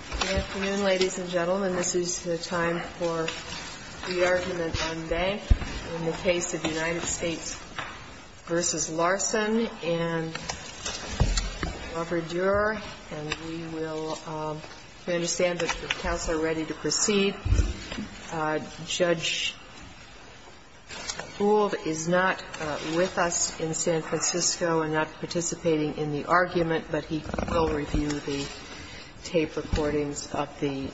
Good afternoon, ladies and gentlemen. This is the time for the argument on bank in the case of United States v. Larson and Robert Durer. And we will – we understand that the counsel are ready to proceed. Judge Bould is not with us in San Francisco and not participating in the argument, but he will review the tape recordings of the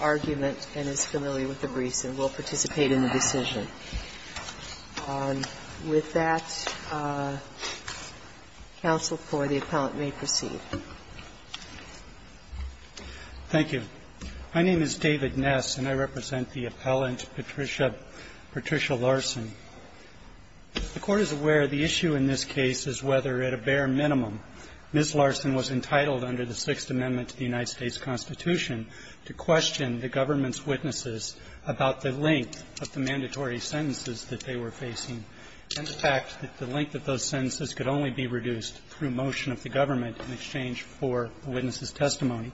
argument and is familiar with the briefs and will participate in the decision. With that, counsel, the appellant may proceed. Ness Thank you. My name is David Ness and I represent the appellant Patricia – Patricia Larson. The Court is aware the issue in this case is whether, at a bare minimum, Ms. Larson was entitled under the Sixth Amendment to the United States Constitution to question the government's witnesses about the length of the mandatory sentences that they were facing and the fact that the length of those sentences could only be reduced through motion of the government in exchange for the witness's testimony.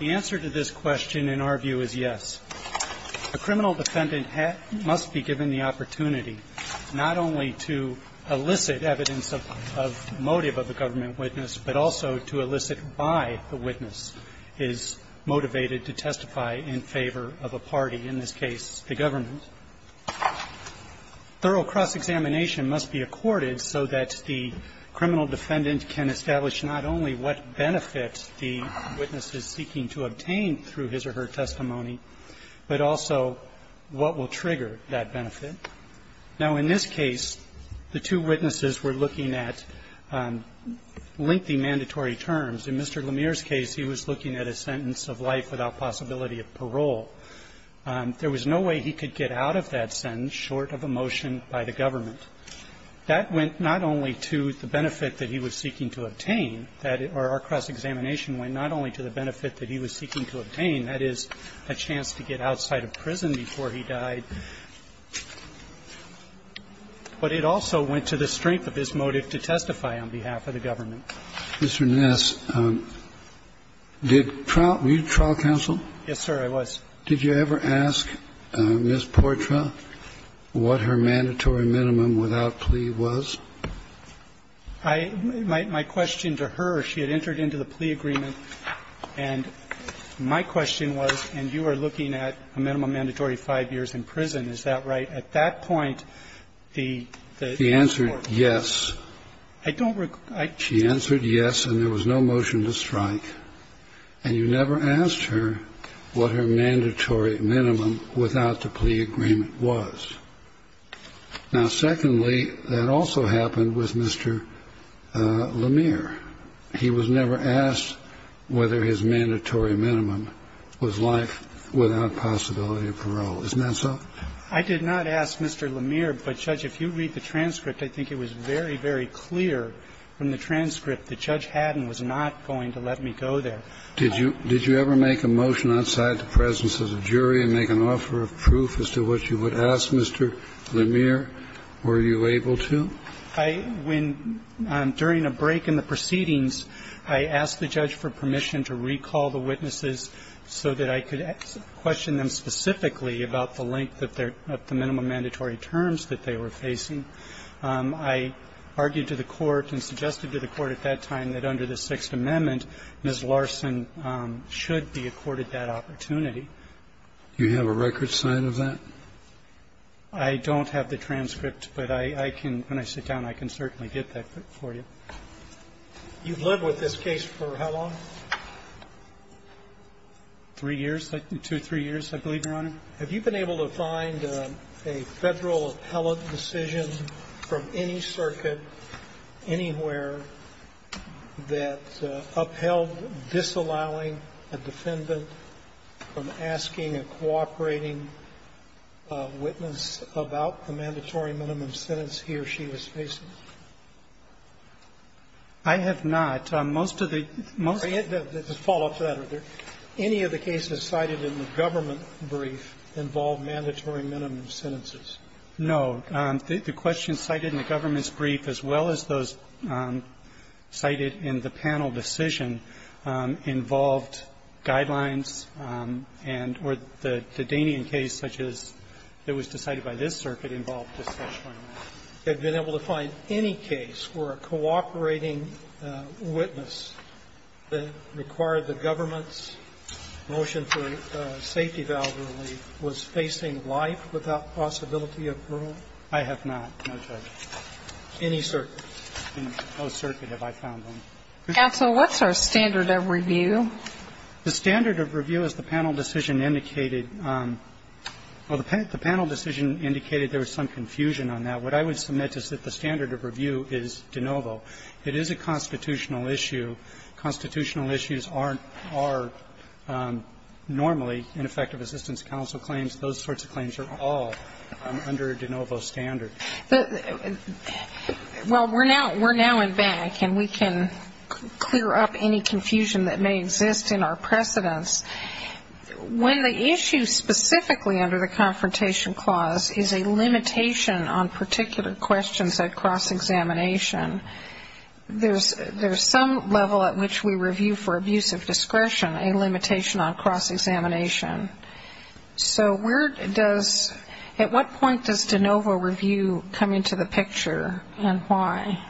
The answer to this question, in our view, is yes. A criminal defendant must be given the opportunity not only to elicit evidence of motive of the government witness, but also to elicit why the witness is motivated to testify in favor of a party, in this case the government. Thorough cross-examination must be accorded so that the criminal defendant can establish not only what benefits the witness is seeking to obtain through his or her testimony, but also what will trigger that benefit. Now, in this case, the two witnesses were looking at lengthy mandatory terms. In Mr. Lemire's case, he was looking at a sentence of life without possibility of parole. There was no way he could get out of that sentence short of a motion by the government. That went not only to the benefit that he was seeking to obtain, or our cross-examination went not only to the benefit that he was seeking to obtain, that is, a chance to get outside of prison before he died, but it also went to the strength of his motive to testify on behalf of the government. Mr. Ness, did trial – were you trial counsel? Yes, sir, I was. Did you ever ask Ms. Portra what her mandatory minimum without plea was? I – my question to her, she had entered into the plea agreement, and my question was, and you are looking at a minimum mandatory five years in prison, is that right? At that point, the court – She answered yes. I don't – I – She answered yes, and there was no motion to strike, and you never asked her what her mandatory minimum without the plea agreement was. Now, secondly, that also happened with Mr. LeMire. He was never asked whether his mandatory minimum was life without possibility of parole. Isn't that so? I did not ask Mr. LeMire, but, Judge, if you read the transcript, I think it was very, very clear from the transcript that Judge Haddon was not going to let me go there. Did you – did you ever make a motion outside the presence of the jury and make an offer of proof as to what you would ask Mr. LeMire? Were you able to? I – when – during a break in the proceedings, I asked the judge for permission to recall the witnesses so that I could question them specifically about the length of their – of the minimum mandatory terms that they were facing. I argued to the court and suggested to the court at that time that under the Sixth Amendment, Ms. Larson should be accorded that opportunity. Do you have a record sign of that? I don't have the transcript, but I can – when I sit down, I can certainly get that for you. You've lived with this case for how long? Three years, two or three years, I believe, Your Honor. Have you been able to find a Federal appellate decision from any circuit, anywhere, that upheld disallowing a defendant from asking a cooperating witness about the mandatory minimum sentence he or she was facing? I have not. Most of the – most of the – involved mandatory minimum sentences. No. The questions cited in the government's brief, as well as those cited in the panel decision, involved guidelines and – or the Dainian case, such as it was decided by this circuit, involved a special guideline. Have you been able to find any case where a cooperating witness that required the government's motion for safety valve relief was facing life without possibility of parole? I have not, no, Judge. Any circuit. No circuit have I found one. Counsel, what's our standard of review? The standard of review, as the panel decision indicated – well, the panel decision indicated there was some confusion on that. What I would submit is that the standard of review is de novo. It is a constitutional issue. Constitutional issues aren't – are normally ineffective assistance counsel claims. Those sorts of claims are all under de novo standard. But – well, we're now – we're now in back, and we can clear up any confusion that may exist in our precedence. When the issue specifically under the Confrontation Clause is a limitation on particular questions at cross-examination, there's – there's some level at which we review for abuse of discretion, a limitation on cross-examination. So where does – at what point does de novo review come into the picture, and why?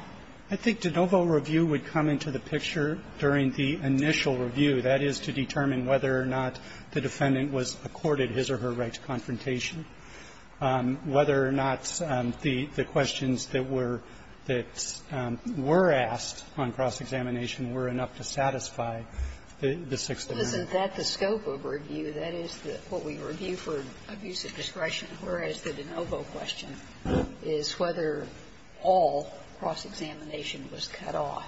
I think de novo review would come into the picture during the initial review. That is, to determine whether or not the defendant was accorded his or her right to confrontation. Whether or not the questions that were – that were asked on cross-examination were enough to satisfy the Sixth Amendment. Isn't that the scope of review? That is the – what we review for abuse of discretion, whereas the de novo question is whether all cross-examination was cut off.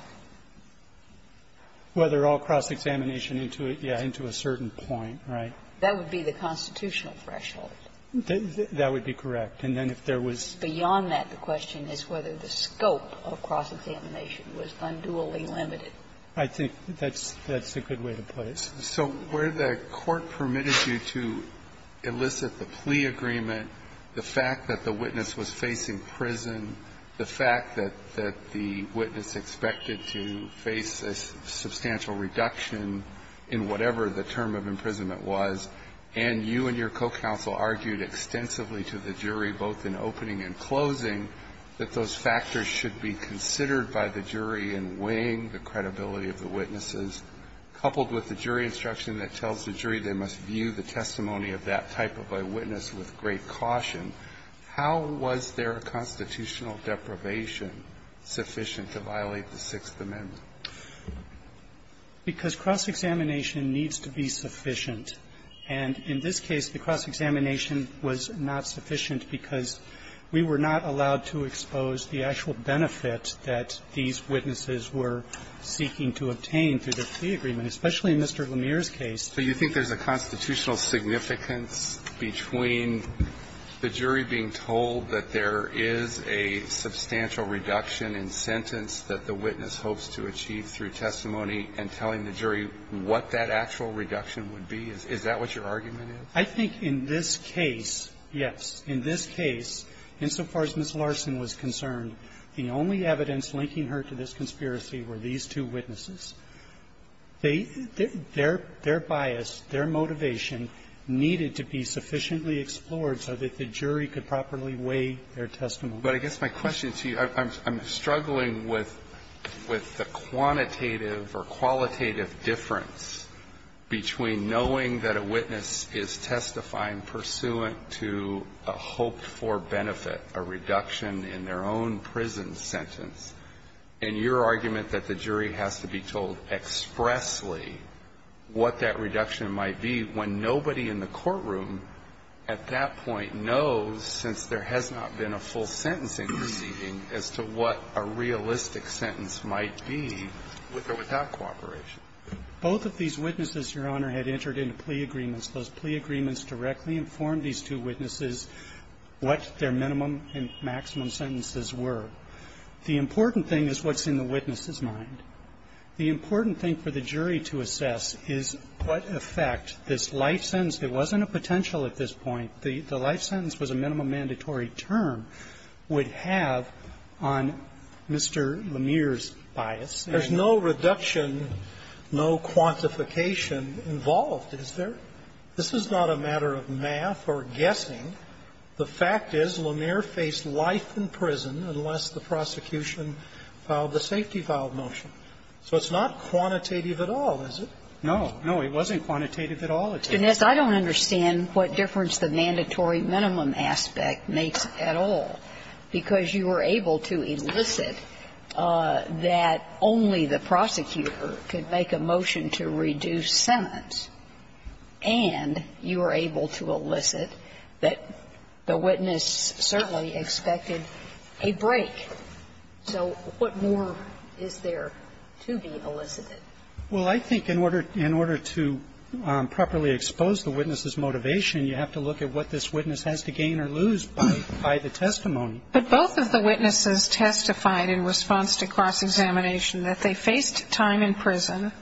Whether all cross-examination into a – yeah, into a certain point, right. That would be the constitutional threshold. That would be correct. And then if there was – Beyond that, the question is whether the scope of cross-examination was unduly limited. I think that's – that's a good way to put it. So where the court permitted you to elicit the plea agreement, the fact that the witness was facing prison, the fact that – that the witness expected to face a substantial reduction in whatever the term of imprisonment was, and you and your co-counsel argued extensively to the jury, both in opening and closing, that those factors should be considered by the jury in weighing the credibility of the witnesses, coupled with the jury instruction that tells the jury they must view the testimony of that type of a witness with great caution. How was their constitutional deprivation sufficient to violate the Sixth Amendment? Because cross-examination needs to be sufficient. And in this case, the cross-examination was not sufficient because we were not allowed to expose the actual benefit that these witnesses were seeking to obtain through the plea agreement, especially in Mr. Lemire's case. So you think there's a constitutional significance between the jury being told that there is a substantial reduction in sentence that the witness hopes to achieve through testimony and telling the jury what that actual reduction would be? Is that what your argument is? I think in this case, yes. In this case, insofar as Ms. Larson was concerned, the only evidence linking her to this conspiracy were these two witnesses. They – their bias, their motivation needed to be sufficiently explored so that the jury could properly weigh their testimony. But I guess my question to you, I'm struggling with the quantitative or qualitative difference between knowing that a witness is testifying pursuant to a hoped-for benefit, a reduction in their own prison sentence, and your argument that the jury has to be told expressly what that reduction might be when nobody in the courtroom at that point knows, since there has not been a full sentencing proceeding, as to what a realistic sentence might be with or without cooperation. Both of these witnesses, Your Honor, had entered into plea agreements. Those plea agreements directly informed these two witnesses what their minimum and maximum sentences were. The important thing is what's in the witness's mind. The important thing for the jury to assess is what effect this life sentence – it wasn't a potential at this point. The life sentence was a minimum mandatory term – would have on Mr. Lemire's bias. There's no reduction, no quantification involved, is there? This is not a matter of math or guessing. The fact is, Lemire faced life in prison unless the prosecution filed the safety-filed motion. So it's not quantitative at all, is it? No. No, it wasn't quantitative at all. Mr. Ness, I don't understand what difference the mandatory minimum aspect makes at all, because you were able to elicit that only the prosecutor could make a motion to reduce sentence, and you were able to elicit that the witness certainly expected a break. So what more is there to be elicited? Well, I think in order to properly expose the witness's motivation, you have to look at what this witness has to gain or lose by the testimony. But both of the witnesses testified in response to cross-examination that they faced time in prison,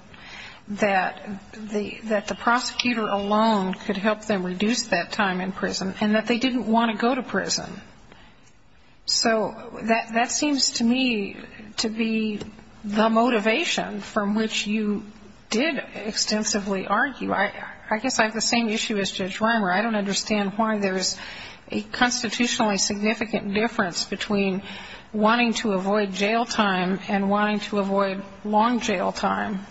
that the prosecutor alone could help them reduce that time in prison, and that they didn't want to go to prison. So that seems to me to be the motivation from which you did extensively argue. I guess I have the same issue as Judge Rimer. I don't understand why there's a constitutionally significant difference between wanting to avoid jail time and wanting to avoid long jail time.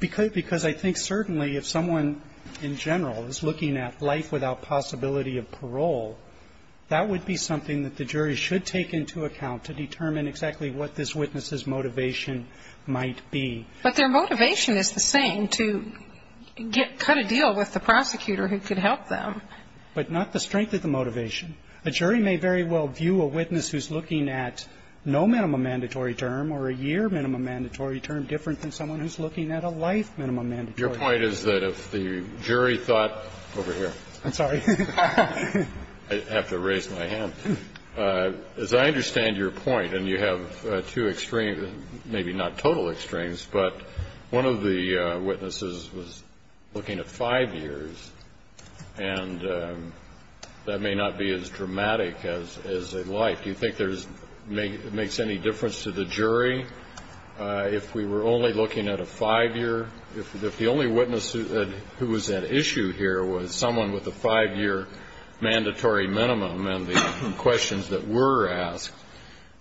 Because I think certainly if someone in general is looking at life without possibility of parole, that would be something that the jury should take into account to determine exactly what this witness's motivation might be. But their motivation is the same to cut a deal with the prosecutor who could help them. But not the strength of the motivation. A jury may very well view a witness who's looking at no minimum mandatory term or a year minimum mandatory term different than someone who's looking at a life minimum mandatory term. Your point is that if the jury thought over here. I'm sorry. I have to raise my hand. As I understand your point, and you have two extremes, maybe not total extremes, but one of the witnesses was looking at five years. And that may not be as dramatic as a life. Do you think there's, makes any difference to the jury if we were only looking at a five year? If the only witness who was at issue here was someone with a five year mandatory minimum and the questions that were asked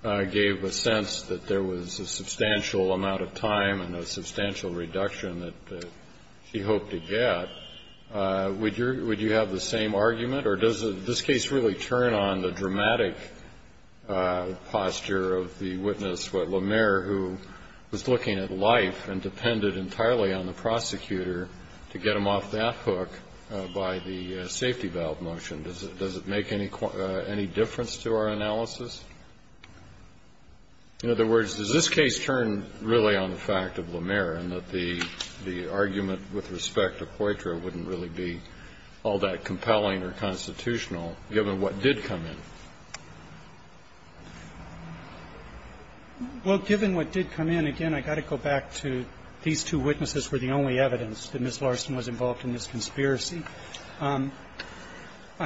gave a sense that there was a substantial amount of time and a substantial reduction that she hoped to get, would you have the same argument? Or does this case really turn on the dramatic posture of the witness, what LaMere, who was looking at life and depended entirely on the prosecutor to get him off that hook by the safety valve motion? Does it make any difference to our analysis? In other words, does this case turn really on the fact of LaMere and that the argument with respect to Poitras wouldn't really be all that compelling or constitutional given what did come in? Well, given what did come in, again, I've got to go back to these two witnesses were the only evidence that Ms. Larson was involved in this conspiracy. I'm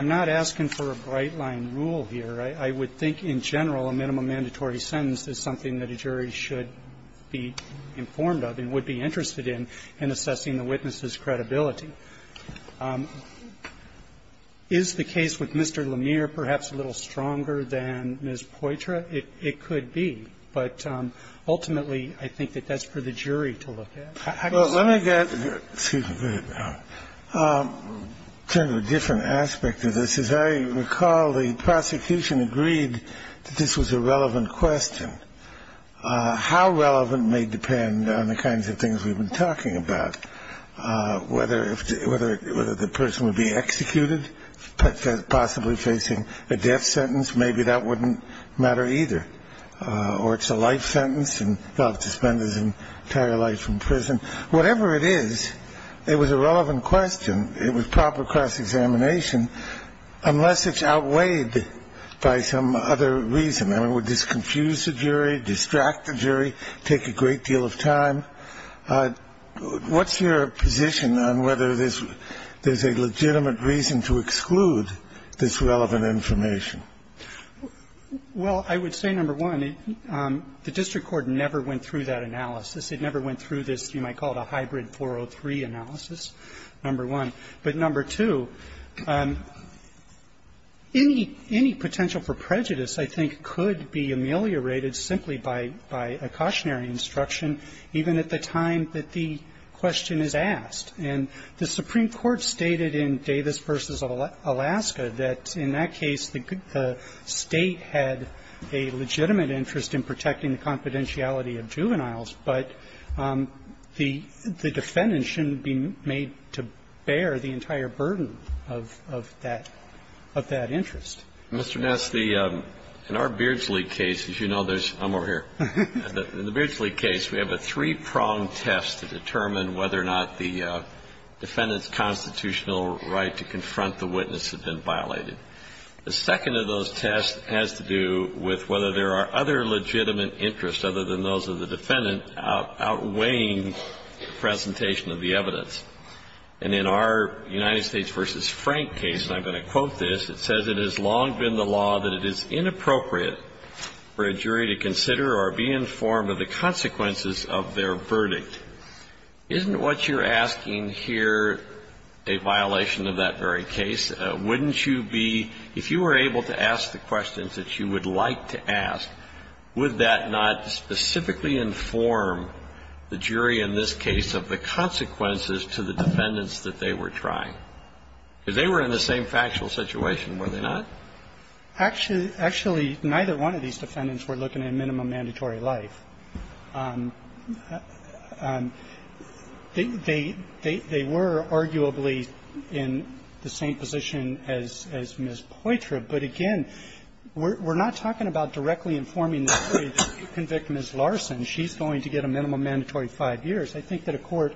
not asking for a bright-line rule here. I would think in general a minimum mandatory sentence is something that a jury should be informed of and would be interested in in assessing the witness's credibility. Is the case with Mr. LaMere perhaps a little stronger than Ms. Poitras? It could be. But ultimately, I think that that's for the jury to look at. I don't know. Well, let me get to the different aspect of this, as I recall, the prosecution agreed that this was a relevant question. How relevant may depend on the kinds of things we've been talking about, whether the person would be executed, possibly facing a death sentence, maybe that wouldn't matter either, or it's a life sentence and they'll have to spend his entire life in prison. Whatever it is, it was a relevant question. It was proper cross-examination, unless it's outweighed by some other reason. I mean, would this confuse the jury, distract the jury, take a great deal of time? What's your position on whether there's a legitimate reason to exclude this relevant information? Well, I would say, number one, the district court never went through that analysis. It never went through this, you might call it a hybrid 403 analysis, number one. But number two, any potential for prejudice, I think, could be ameliorated simply by a cautionary instruction, even at the time that the question is asked. And the Supreme Court stated in Davis v. Alaska that in that case, the State had a legitimate interest in protecting the confidentiality of juveniles, but the defendant shouldn't be made to bear the entire burden of that interest. Mr. Ness, the – in our Beardsley case, as you know, there's – I'm over here. In the Beardsley case, we have a three-pronged test to determine whether or not the defendant's constitutional right to confront the witness had been violated. The second of those tests has to do with whether there are other legitimate interests other than those of the defendant outweighing the presentation of the evidence. And in our United States v. Frank case, and I'm going to quote this, it says, it has long been the law that it is inappropriate for a jury to consider or be informed of the consequences of their verdict. Isn't what you're asking here a violation of that very case? Wouldn't you be – if you were able to ask the questions that you would like to ask, would that not specifically inform the jury in this case of the consequences to the defendants that they were trying? Because they were in the same factual situation, were they not? Actually, neither one of these defendants were looking at minimum mandatory life. They were arguably in the same position as Ms. Poitra, but again, we're not talking about directly informing the jury that if you convict Ms. Larson, she's going to get a minimum mandatory five years. I think that a court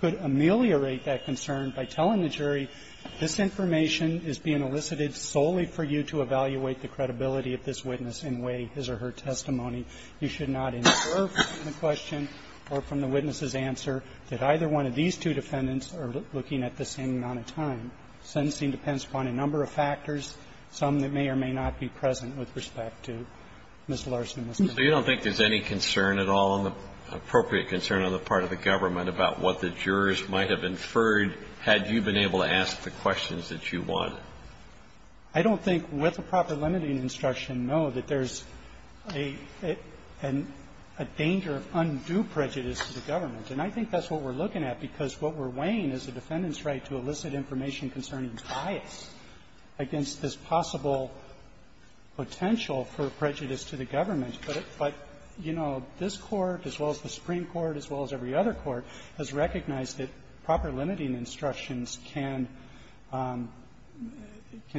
could ameliorate that concern by telling the jury, this information is being elicited solely for you to evaluate the credibility of this witness in way, his or her testimony. You should not infer from the question or from the witness's answer that either one of these two defendants are looking at the same amount of time. Sentencing depends upon a number of factors, some that may or may not be present with respect to Ms. Larson, Ms. Poitra. So you don't think there's any concern at all, appropriate concern on the part of the government about what the jurors might have inferred had you been able to ask the questions that you wanted? I don't think with a proper limiting instruction, no, that there's a danger of undue prejudice to the government. And I think that's what we're looking at, because what we're weighing is the defendant's right to elicit information concerning bias against this possible potential for prejudice to the government. But, you know, this Court, as well as the Supreme Court, as well as every other court, has recognized that proper limiting instructions can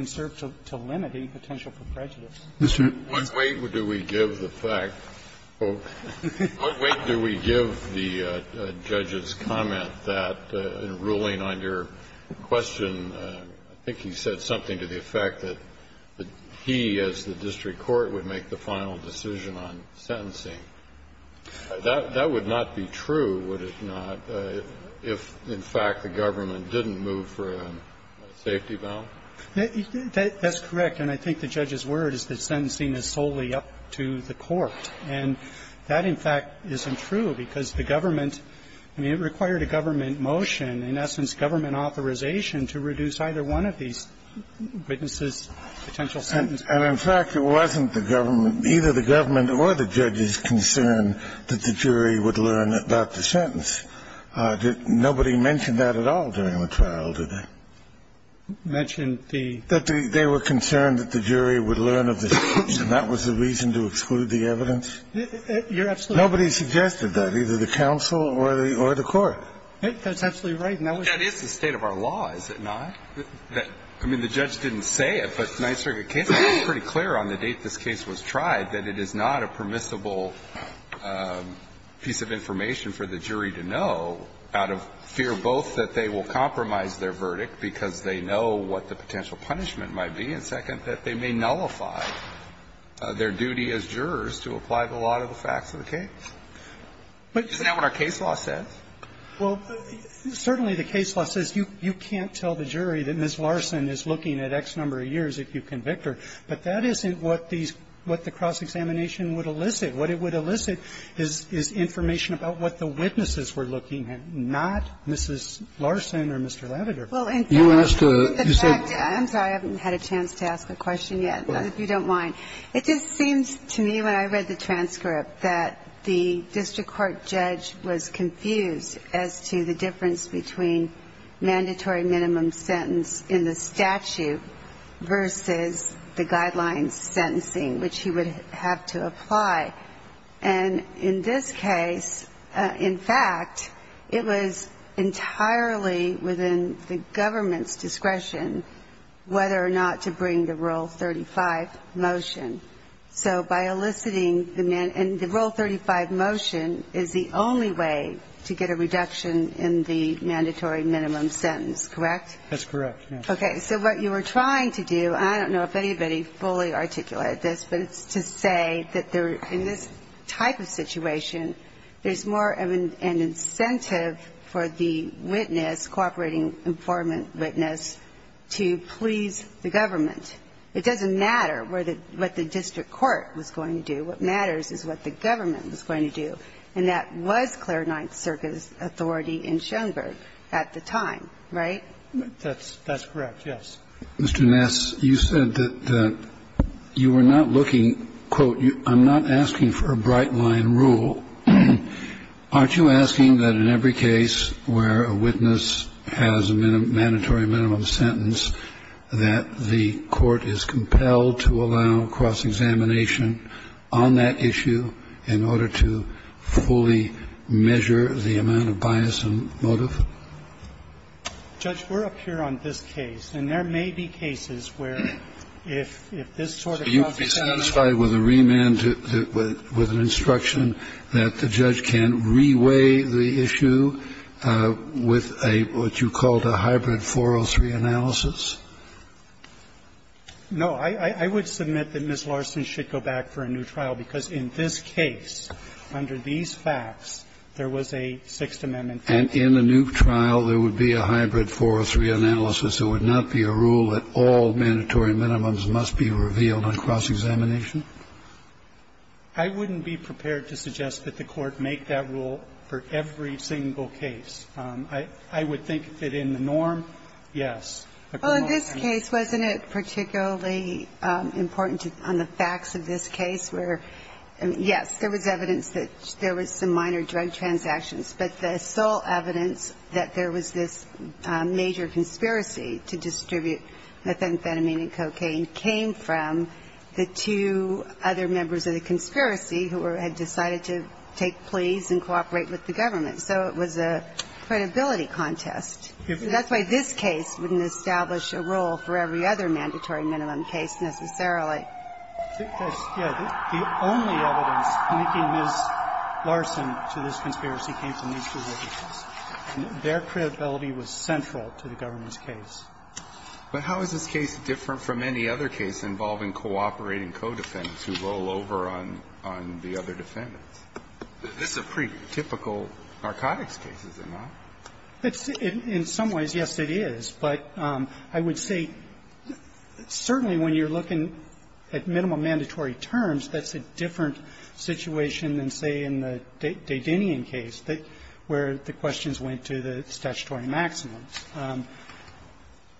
serve to limit any potential for prejudice. Mr. Eberhardt. What weight do we give the fact, folks, what weight do we give the judge's comment that in ruling on your question, I think he said something to the effect that he, as the district court, would make the final decision on sentencing? That would not be true, would it not, if in fact the government didn't move for a safety bound? That's correct. And I think the judge's word is that sentencing is solely up to the court. And that, in fact, isn't true, because the government – I mean, it required a government motion, in essence government authorization, to reduce either one of these witnesses' potential sentence. And in fact, it wasn't the government – either the government or the judge's concern that the jury would learn about the sentence. Nobody mentioned that at all during the trial, did they? Mentioned the – That they were concerned that the jury would learn of the sentence. And that was the reason to exclude the evidence? You're absolutely right. Nobody suggested that, either the counsel or the court. That's absolutely right. And that was – That is the state of our law, is it not? I mean, the judge didn't say it, but the Ninth Circuit case was pretty clear on the date this case was tried that it is not a permissible piece of information for the jury to know out of fear both that they will compromise their verdict because they know what the potential punishment might be, and second, that they may nullify their duty as jurors to apply the law to the facts of the case. Isn't that what our case law says? Well, certainly the case law says you can't tell the jury that Ms. Larson is looking at X number of years if you convict her, but that isn't what these – what the cross-examination would elicit. What it would elicit is information about what the witnesses were looking at, not Mrs. Larson or Mr. Labrador. Well, in fact, the fact that you said – I'm sorry. I haven't had a chance to ask a question yet, if you don't mind. It just seems to me when I read the transcript that the district court judge was confused as to the difference between mandatory minimum sentence in the statute versus the guideline sentencing, which he would have to apply. And in this case, in fact, it was entirely within the government's discretion whether or not to bring the Rule 35 motion. So by eliciting the – and the Rule 35 motion is the only way to get a reduction in the mandatory minimum sentence, correct? That's correct, yes. Okay. So what you were trying to do – and I don't know if anybody fully articulated this, but it's to say that in this type of situation, there's more of an incentive for the witness, cooperating informant witness, to please the government. It doesn't matter where the – what the district court was going to do. What matters is what the government was going to do. And that was Claire Ninth Circuit's authority in Schoenberg at the time, right? That's correct, yes. Mr. Ness, you said that you were not looking, quote, I'm not asking for a bright-line rule. Aren't you asking that in every case where a witness has a mandatory minimum sentence, that the court is compelled to allow cross-examination on that issue in order to fully measure the amount of bias and motive? Judge, we're up here on this case, and there may be cases where, if this sort of process is not allowed. So you'd be satisfied with a remand, with an instruction that the judge can re-weigh the issue with a – what you called a hybrid 403 analysis? No. I would submit that Ms. Larson should go back for a new trial, because in this case, under these facts, there was a Sixth Amendment fact. And in a new trial, there would be a hybrid 403 analysis. There would not be a rule that all mandatory minimums must be revealed on cross-examination? I wouldn't be prepared to suggest that the Court make that rule for every single case. I would think that in the norm, yes. Well, in this case, wasn't it particularly important on the facts of this case where – yes, there was evidence that there was some minor drug transactions, but the sole evidence that there was this major conspiracy to distribute methamphetamine and cocaine came from the two other members of the conspiracy who had decided to take pleas and cooperate with the government. So it was a credibility contest. That's why this case wouldn't establish a rule for every other mandatory minimum case, necessarily. The only evidence linking Ms. Larson to this conspiracy came from these two witnesses. Their credibility was central to the government's case. But how is this case different from any other case involving cooperating co-defendants who roll over on the other defendants? This is a pretty typical narcotics case, is it not? In some ways, yes, it is. But I would say certainly when you're looking at minimum mandatory terms, that's a different situation than, say, in the DeDinian case where the questions went to the statutory maximums.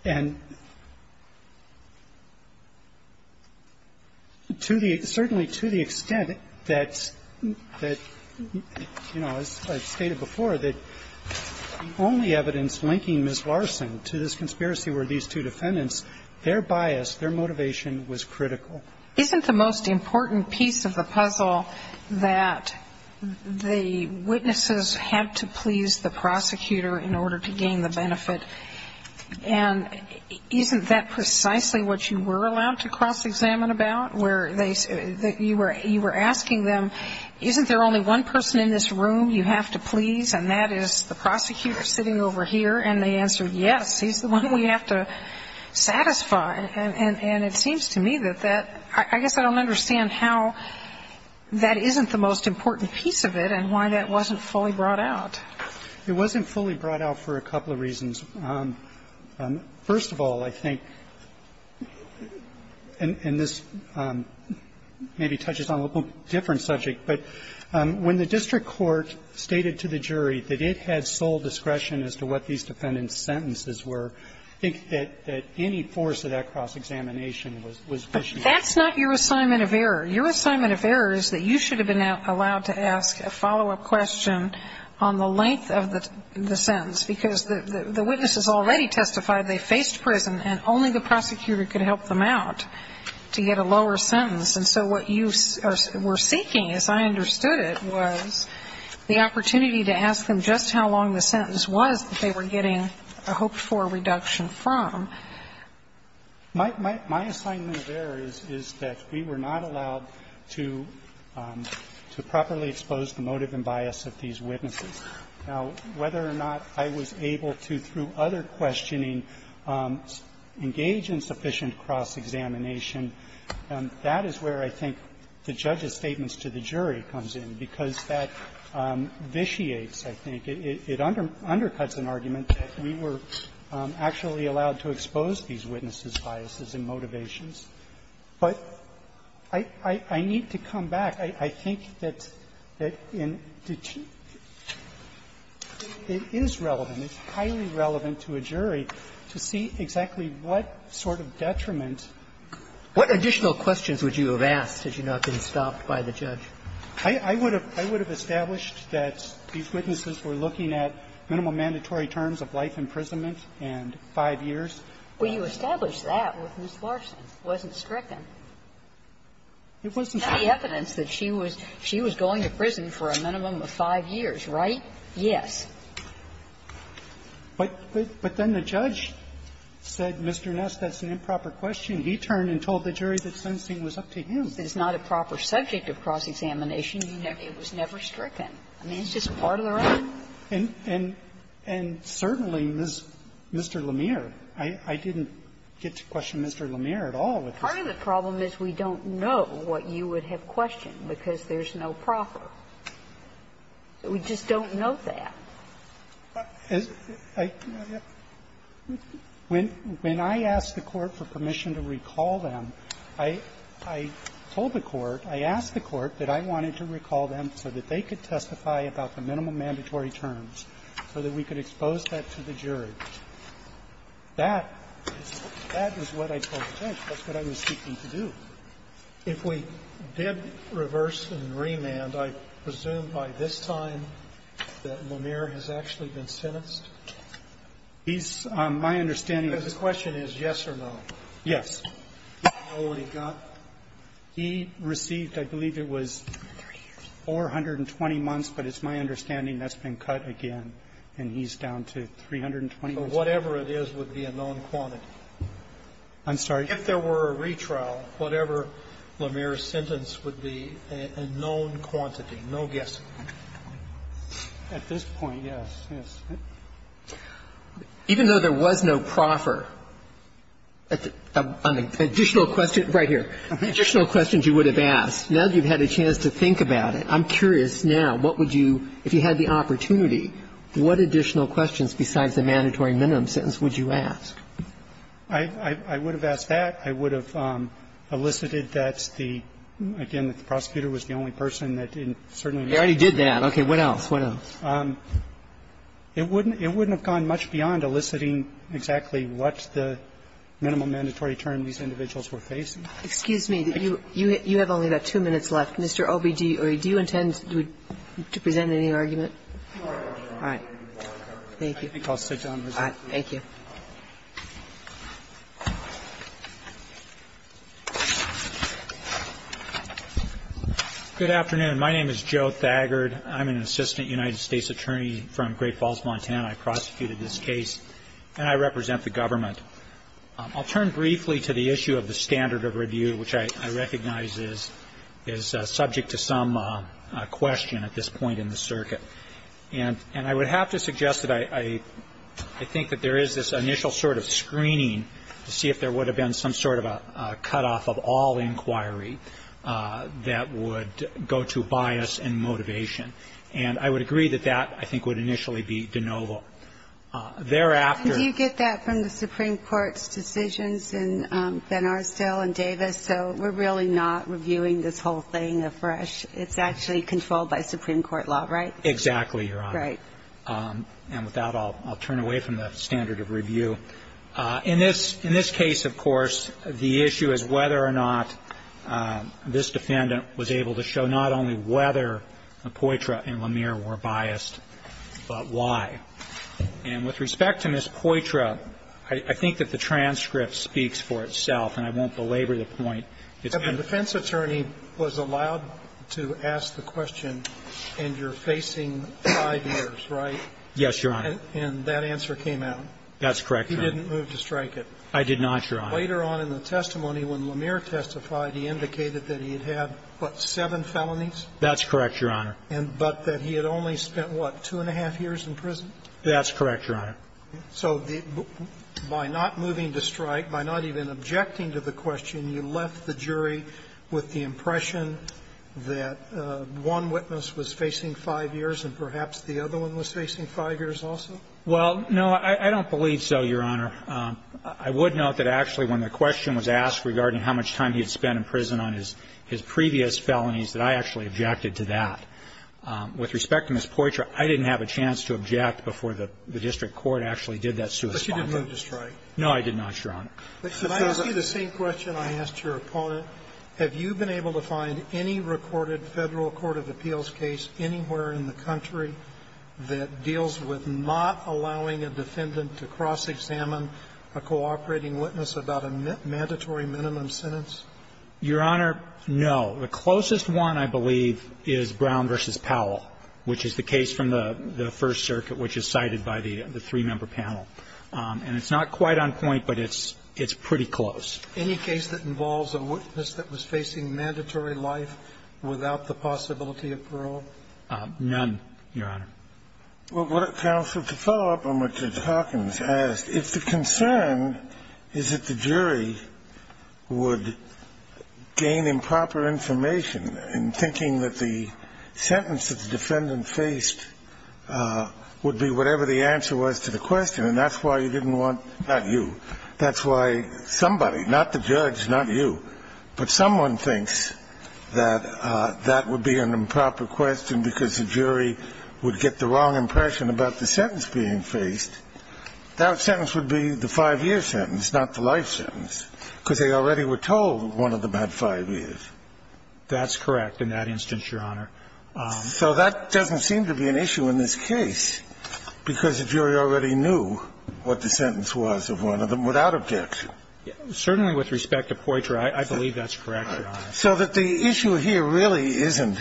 And to the – certainly to the extent that, you know, as I stated before, that the only evidence linking Ms. Larson to this conspiracy were these two defendants, their bias, their motivation was critical. Isn't the most important piece of the puzzle that the witnesses have to please the prosecutor? And isn't that precisely what you were allowed to cross-examine about, where you were asking them, isn't there only one person in this room you have to please, and that is the prosecutor sitting over here, and they answered, yes, he's the one we have to satisfy? And it seems to me that that – I guess I don't understand how that isn't the most important piece of the puzzle. First of all, I think, and this maybe touches on a little different subject, but when the district court stated to the jury that it had sole discretion as to what these defendants' sentences were, I think that any force of that cross-examination was pushed back. But that's not your assignment of error. Your assignment of error is that you should have been allowed to ask a follow-up question on the length of the sentence, because the witnesses already testified they faced prison, and only the prosecutor could help them out to get a lower sentence. And so what you were seeking, as I understood it, was the opportunity to ask them just how long the sentence was that they were getting a hoped-for reduction from. My assignment of error is that we were not allowed to properly expose the motive and bias of these witnesses. Now, whether or not I was able to, through other questioning, engage in sufficient cross-examination, that is where I think the judge's statements to the jury comes in, because that vitiates, I think. It undercuts an argument that we were actually allowed to expose these witnesses' biases and motivations. But I need to come back. I think that it is relevant, it's highly relevant to a jury to see exactly what sort of detriment. What additional questions would you have asked had you not been stopped by the judge? I would have established that these witnesses were looking at minimum mandatory terms of life imprisonment and 5 years. Well, you established that with Ms. Larson. It wasn't stricken. It wasn't stricken. It's the evidence that she was going to prison for a minimum of 5 years, right? Yes. But then the judge said, Mr. Ness, that's an improper question. He turned and told the jury that sentencing was up to him. It's not a proper subject of cross-examination. It was never stricken. I mean, it's just part of the rule. And certainly, Mr. Lemire, I didn't get to question Mr. Lemire at all. Part of the problem is we don't know what you would have questioned because there's no proper. We just don't know that. When I asked the Court for permission to recall them, I told the Court, I asked the Court that I wanted to recall them so that they could testify about the minimum mandatory terms, so that we could expose that to the jury. That is what I told the judge. That's what I was seeking to do. If we did reverse and remand, I presume by this time that Lemire has actually been sentenced? He's, my understanding is the question is yes or no. Yes. Do you know what he got? He received, I believe it was 420 months, but it's my understanding that's been cut again. And he's down to 320 months. But whatever it is would be a known quantity. I'm sorry? If there were a retrial, whatever Lemire's sentence would be a known quantity, no guessing. At this point, yes, yes. Even though there was no proffer, on the additional question, right here, additional questions you would have asked, now that you've had a chance to think about it, I'm What additional questions besides the mandatory minimum sentence would you ask? I would have asked that. I would have elicited that the, again, the prosecutor was the only person that certainly They already did that. Okay. What else? What else? It wouldn't have gone much beyond eliciting exactly what the minimum mandatory term these individuals were facing. Excuse me. You have only about two minutes left. Mr. Obediuri, do you intend to present any argument? All right. Thank you. I think I'll sit down and respond. All right. Thank you. Good afternoon. My name is Joe Thagard. I'm an assistant United States attorney from Great Falls, Montana. I prosecuted this case, and I represent the government. I'll turn briefly to the issue of the standard of review, which I recognize is subject to some question at this point in the circuit. And I would have to suggest that I think that there is this initial sort of screening to see if there would have been some sort of a cutoff of all inquiry that would go to bias and motivation. And I would agree that that, I think, would initially be de novo. Thereafter Do you get that from the Supreme Court's decisions in Ben Arstow and Davis? So we're really not reviewing this whole thing afresh. It's actually controlled by Supreme Court law, right? Exactly, Your Honor. Right. And with that, I'll turn away from the standard of review. In this case, of course, the issue is whether or not this defendant was able to show not only whether Poitra and Lemire were biased, but why. And with respect to Ms. Poitra, I think that the transcript speaks for itself, and I won't belabor the point. The defense attorney was allowed to ask the question, and you're facing five years, right? Yes, Your Honor. And that answer came out. That's correct, Your Honor. He didn't move to strike it. I did not, Your Honor. Later on in the testimony, when Lemire testified, he indicated that he had had, what, seven felonies? That's correct, Your Honor. That's correct, Your Honor. So by not moving to strike, by not even objecting to the question, you left the jury with the impression that one witness was facing five years and perhaps the other one was facing five years also? Well, no, I don't believe so, Your Honor. I would note that actually when the question was asked regarding how much time he had spent in prison on his previous felonies, that I actually objected to that. With respect to Ms. Poitra, I didn't have a chance to object before the district court actually did that suit. But you didn't move to strike. No, I did not, Your Honor. Can I ask you the same question I asked your opponent? Have you been able to find any recorded Federal court of appeals case anywhere in the country that deals with not allowing a defendant to cross-examine a cooperating witness about a mandatory minimum sentence? Your Honor, no. The closest one, I believe, is Brown v. Powell, which is the case from the First Circuit, which is cited by the three-member panel. And it's not quite on point, but it's pretty close. Any case that involves a witness that was facing mandatory life without the possibility of parole? None, Your Honor. Counsel, to follow up on what Judge Hawkins asked, if the concern is that the jury would gain improper information in thinking that the sentence that the defendant faced would be whatever the answer was to the question, and that's why you didn't want to do that, that's why somebody, not the judge, not you, but someone thinks that that would be an improper question because the jury would get the wrong impression about the sentence being faced, that sentence would be the 5-year sentence, not the life sentence, because they already were told one of them had 5 years. That's correct in that instance, Your Honor. So that doesn't seem to be an issue in this case, because the jury already knew what the sentence was of one of them without objection. Certainly with respect to Poitras, I believe that's correct, Your Honor. So that the issue here really isn't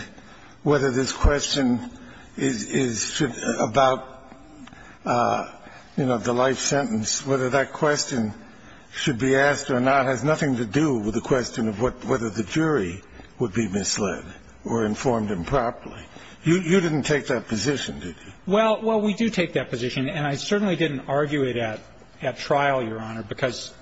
whether this question is about, you know, the life sentence, whether that question should be asked or not has nothing to do with the question of whether the jury would be misled or informed improperly. You didn't take that position, did you? Well, we do take that position, and I certainly didn't argue it at trial, Your Honor, because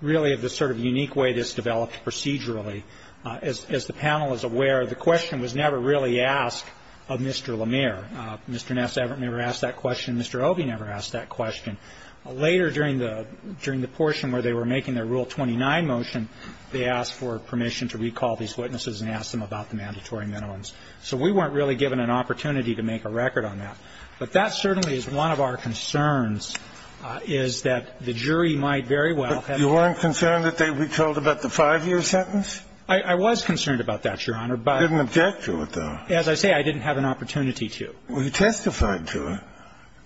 really of the sort of unique way this developed procedurally. As the panel is aware, the question was never really asked of Mr. Lemire. Mr. Ness never asked that question. Mr. Obey never asked that question. Later during the portion where they were making their Rule 29 motion, they asked for permission to recall these witnesses and ask them about the mandatory minimums. So we weren't really given an opportunity to make a record on that. But that certainly is one of our concerns, is that the jury might very well have to But you weren't concerned that they recalled about the five-year sentence? I was concerned about that, Your Honor, but You didn't object to it, though. As I say, I didn't have an opportunity to. Well, you testified to it.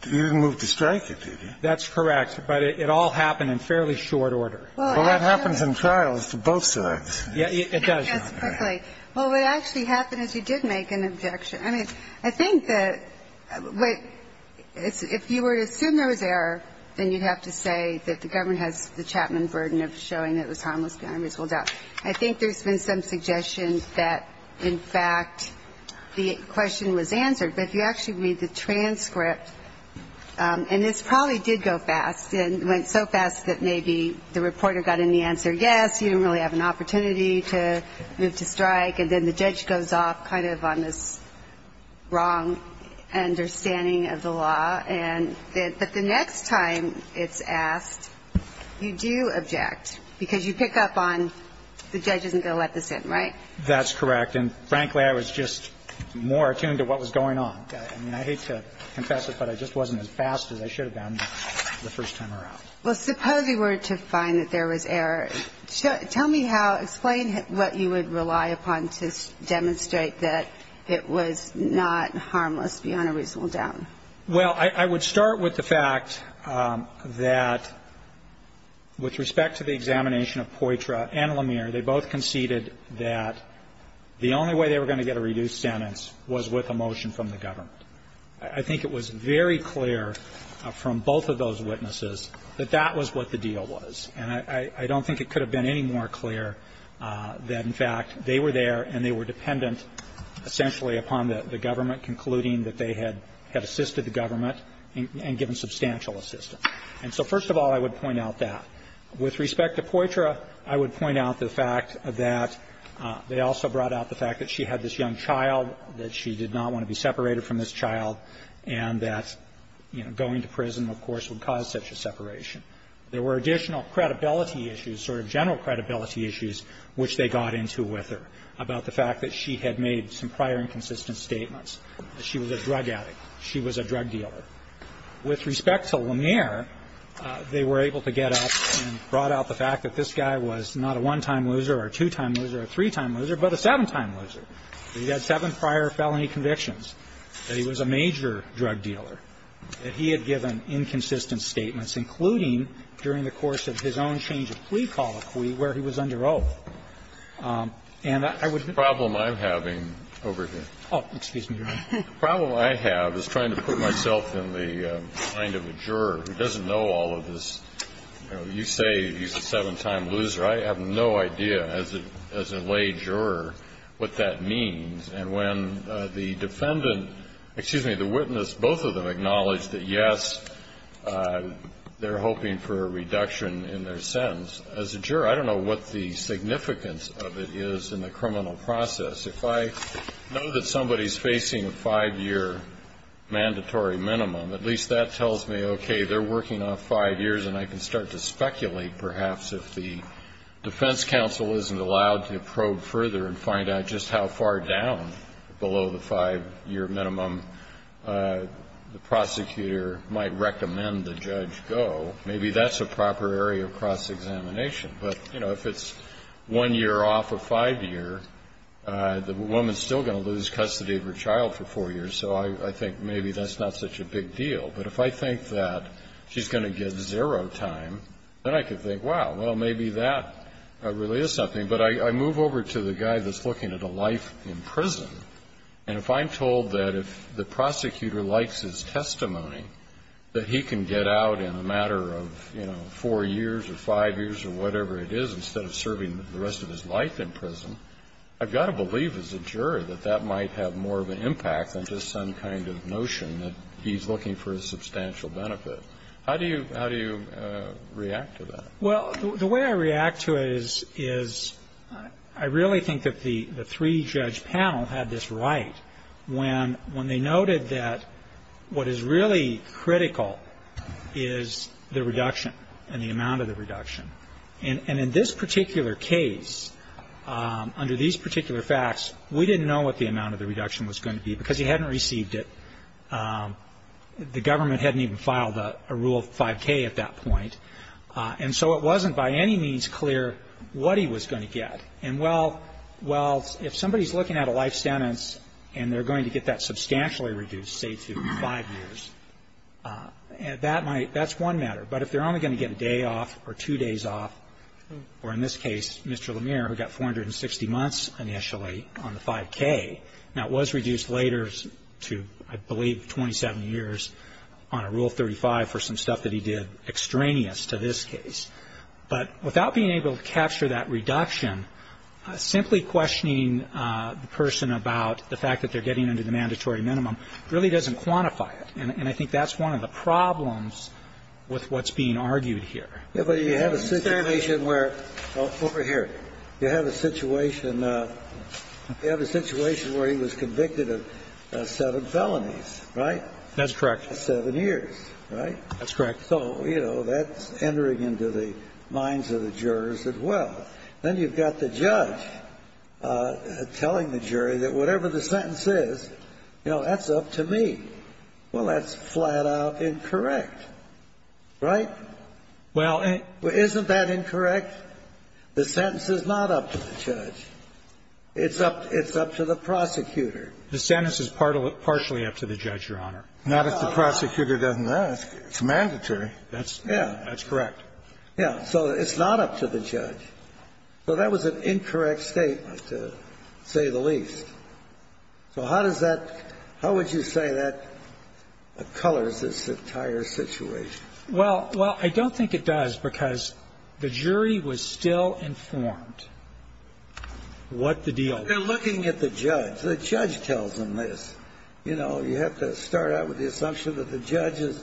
You didn't move to strike it, did you? That's correct, but it all happened in fairly short order. Well, that happens in trials to both sides. Yeah, it does, Your Honor. Yes, perfectly. Well, what actually happened is you did make an objection. I mean, I think that if you were to assume there was error, then you'd have to say that the government has the Chapman burden of showing that it was harmless behind a reasonable doubt. I think there's been some suggestion that, in fact, the question was answered. But if you actually read the transcript, and this probably did go fast and went so fast that maybe the reporter got in the answer, yes, you didn't really have an opportunity to move to strike. And then the judge goes off kind of on this wrong understanding of the law. And then the next time it's asked, you do object, because you pick up on the judge isn't going to let this in, right? That's correct. And frankly, I was just more attuned to what was going on. I mean, I hate to confess it, but I just wasn't as fast as I should have been the first time around. Well, suppose you were to find that there was error. Tell me how to explain what you would rely upon to demonstrate that it was not harmless beyond a reasonable doubt. Well, I would start with the fact that with respect to the examination of Poitras and Lemire, they both conceded that the only way they were going to get a reduced sentence was with a motion from the government. I think it was very clear from both of those witnesses that that was what the deal was. And I don't think it could have been any more clear that, in fact, they were there and they were dependent essentially upon the government concluding that they had assisted the government and given substantial assistance. And so, first of all, I would point out that. With respect to Poitras, I would point out the fact that they also brought out the fact that she had this young child, that she did not want to be separated from this child, and that, you know, going to prison, of course, would cause such a separation. There were additional credibility issues, sort of general credibility issues, which they got into with her about the fact that she had made some prior inconsistent statements, that she was a drug addict, she was a drug dealer. With respect to Lemire, they were able to get up and brought out the fact that this guy was not a one-time loser or a two-time loser or a three-time loser, but a seven-time loser. He had seven prior felony convictions, that he was a major drug dealer, that he had given inconsistent statements, including during the course of his own change of plea colloquy where he was under oath. And I would be ---- Breyer. The problem I'm having over here. Oh, excuse me, Your Honor. The problem I have is trying to put myself in the mind of a juror who doesn't know all of this. You say he's a seven-time loser. I have no idea as a lay juror what that means. And when the defendant, excuse me, the witness, both of them acknowledged that, yes, they're hoping for a reduction in their sentence. As a juror, I don't know what the significance of it is in the criminal process. If I know that somebody's facing a five-year mandatory minimum, at least that tells me, okay, they're working off five years, and I can start to speculate, perhaps, if the defense counsel isn't allowed to probe further and find out just how far down below the five-year minimum the prosecutor might recommend the judge go, maybe that's a proper area of cross-examination. But, you know, if it's one year off of five year, the woman's still going to lose custody of her child for four years. So I think maybe that's not such a big deal. But if I think that she's going to get zero time, then I can think, wow, well, maybe that really is something. But I move over to the guy that's looking at a life in prison. And if I'm told that if the prosecutor likes his testimony, that he can get out in a matter of, you know, four years or five years or whatever it is, instead of serving the rest of his life in prison, I've got to believe, as a juror, that that might have more of an impact than just some kind of notion that he's looking for a substantial benefit. How do you react to that? Well, the way I react to it is I really think that the three-judge panel had this right when they noted that what is really critical is the reduction and the amount of the reduction. And in this particular case, under these particular facts, we didn't know what the amount of the reduction was going to be because he hadn't received it. The government hadn't even filed a rule of 5K at that point. And so it wasn't by any means clear what he was going to get. And, well, if somebody's looking at a life sentence and they're going to get that substantially reduced, say to five years, that's one matter. But if they're only going to get a day off or two days off, or in this case, Mr. Lemire, who got 460 months initially on the 5K, now it was reduced later to, I believe, 27 years on a Rule 35 for some stuff that he did extraneous. And so I think that's one of the things that we're going to have to look at is how we're going to reduce the amount of the reduction and how we're going to reduce the amount of the reduction from this case to this case. But without being able to capture that reduction, simply questioning the person about the fact that they're getting under the mandatory minimum really doesn't quantify it. And I think that's one of the problems with what's being argued here. Yeah, but you have a situation where, over here, you have a situation where he was convicted of seven felonies, right? That's correct. Seven years, right? That's correct. So, you know, that's entering into the minds of the jurors as well. Then you've got the judge telling the jury that whatever the sentence is, you know, that's up to me. Well, that's flat out incorrect, right? Well, isn't that incorrect? The sentence is not up to the judge. It's up to the prosecutor. The sentence is partially up to the judge, Your Honor. Not if the prosecutor doesn't ask. It's mandatory. That's correct. Yeah. So it's not up to the judge. So that was an incorrect statement, to say the least. So how does that – how would you say that colors this entire situation? Well, I don't think it does, because the jury was still informed what the deal was. They're looking at the judge. The judge tells them this. You know, you have to start out with the assumption that the judge is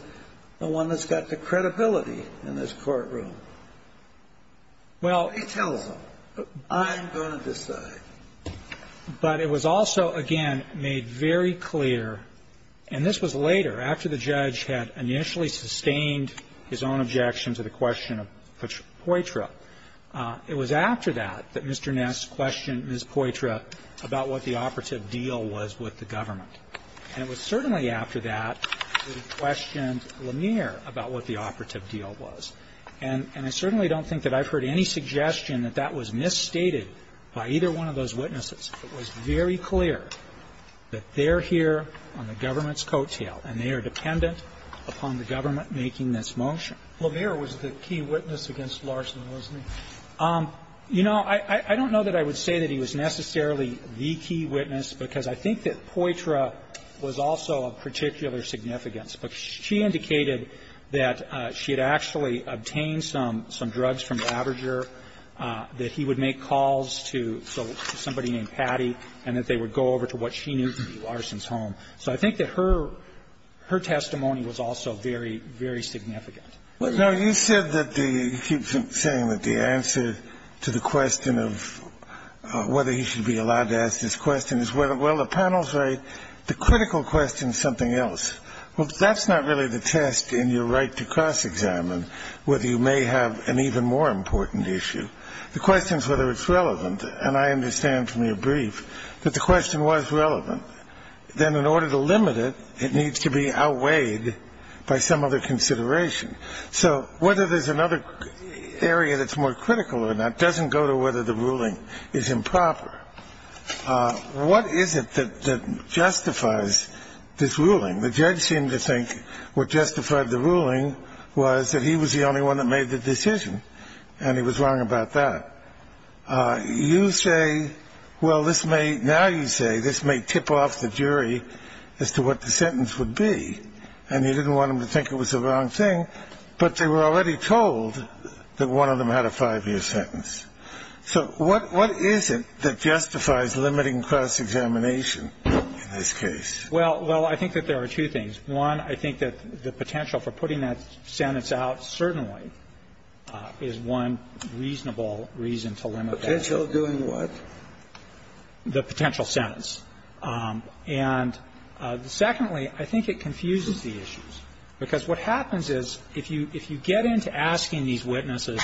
the one that's got the credibility in this courtroom. Well – He tells them, I'm going to decide. But it was also, again, made very clear – and this was later, after the judge had initially sustained his own objection to the question of Poitras. It was after that that Mr. Ness questioned Ms. Poitras about what the operative deal was with the government. And it was certainly after that that he questioned Lanier about what the operative deal was. And I certainly don't think that I've heard any suggestion that that was misstated by either one of those witnesses. It was very clear that they're here on the government's coattail, and they are dependent upon the government making this motion. Lanier was the key witness against Larson, wasn't he? You know, I don't know that I would say that he was necessarily the key witness, because I think that Poitras was also of particular significance. But she indicated that she had actually obtained some drugs from Labrador, that he would make calls to somebody named Patty, and that they would go over to what she knew to be Larson's home. So I think that her testimony was also very, very significant. Well, no, you said that the – you keep saying that the answer to the question of whether he should be allowed to ask this question is, well, the panel's right. The critical question is something else. Well, that's not really the test in your right to cross-examine whether you may have an even more important issue. The question is whether it's relevant, and I understand from your brief that the question was relevant. Then in order to limit it, it needs to be outweighed by some other consideration. So whether there's another area that's more critical or not doesn't go to whether What is it that justifies this ruling? The judge seemed to think what justified the ruling was that he was the only one that made the decision, and he was wrong about that. You say, well, this may – now you say this may tip off the jury as to what the sentence would be, and you didn't want them to think it was the wrong thing, but they were already told that one of them had a five-year sentence. So what is it that justifies limiting cross-examination in this case? Well, I think that there are two things. One, I think that the potential for putting that sentence out certainly is one reasonable reason to limit that. Potential doing what? The potential sentence. And secondly, I think it confuses the issues, because what happens is if you get into asking these witnesses,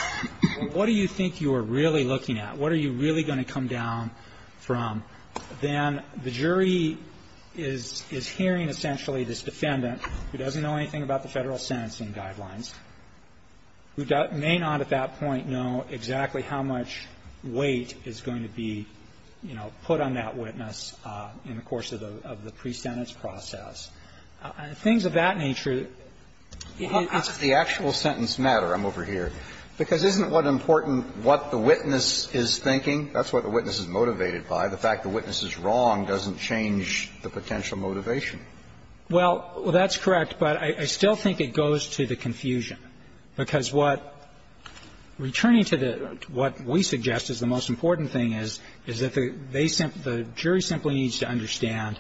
well, what do you think you are really looking at? What are you really going to come down from? Then the jury is hearing essentially this defendant who doesn't know anything about the Federal sentencing guidelines, who may not at that point know exactly how much weight is going to be, you know, put on that witness in the course of the pre-sentence process. Things of that nature – How does the actual sentence matter? I'm over here. Because isn't what important what the witness is thinking? That's what the witness is motivated by. The fact the witness is wrong doesn't change the potential motivation. Well, that's correct. But I still think it goes to the confusion, because what – returning to the – what we suggest is the most important thing is, is that the jury simply needs to understand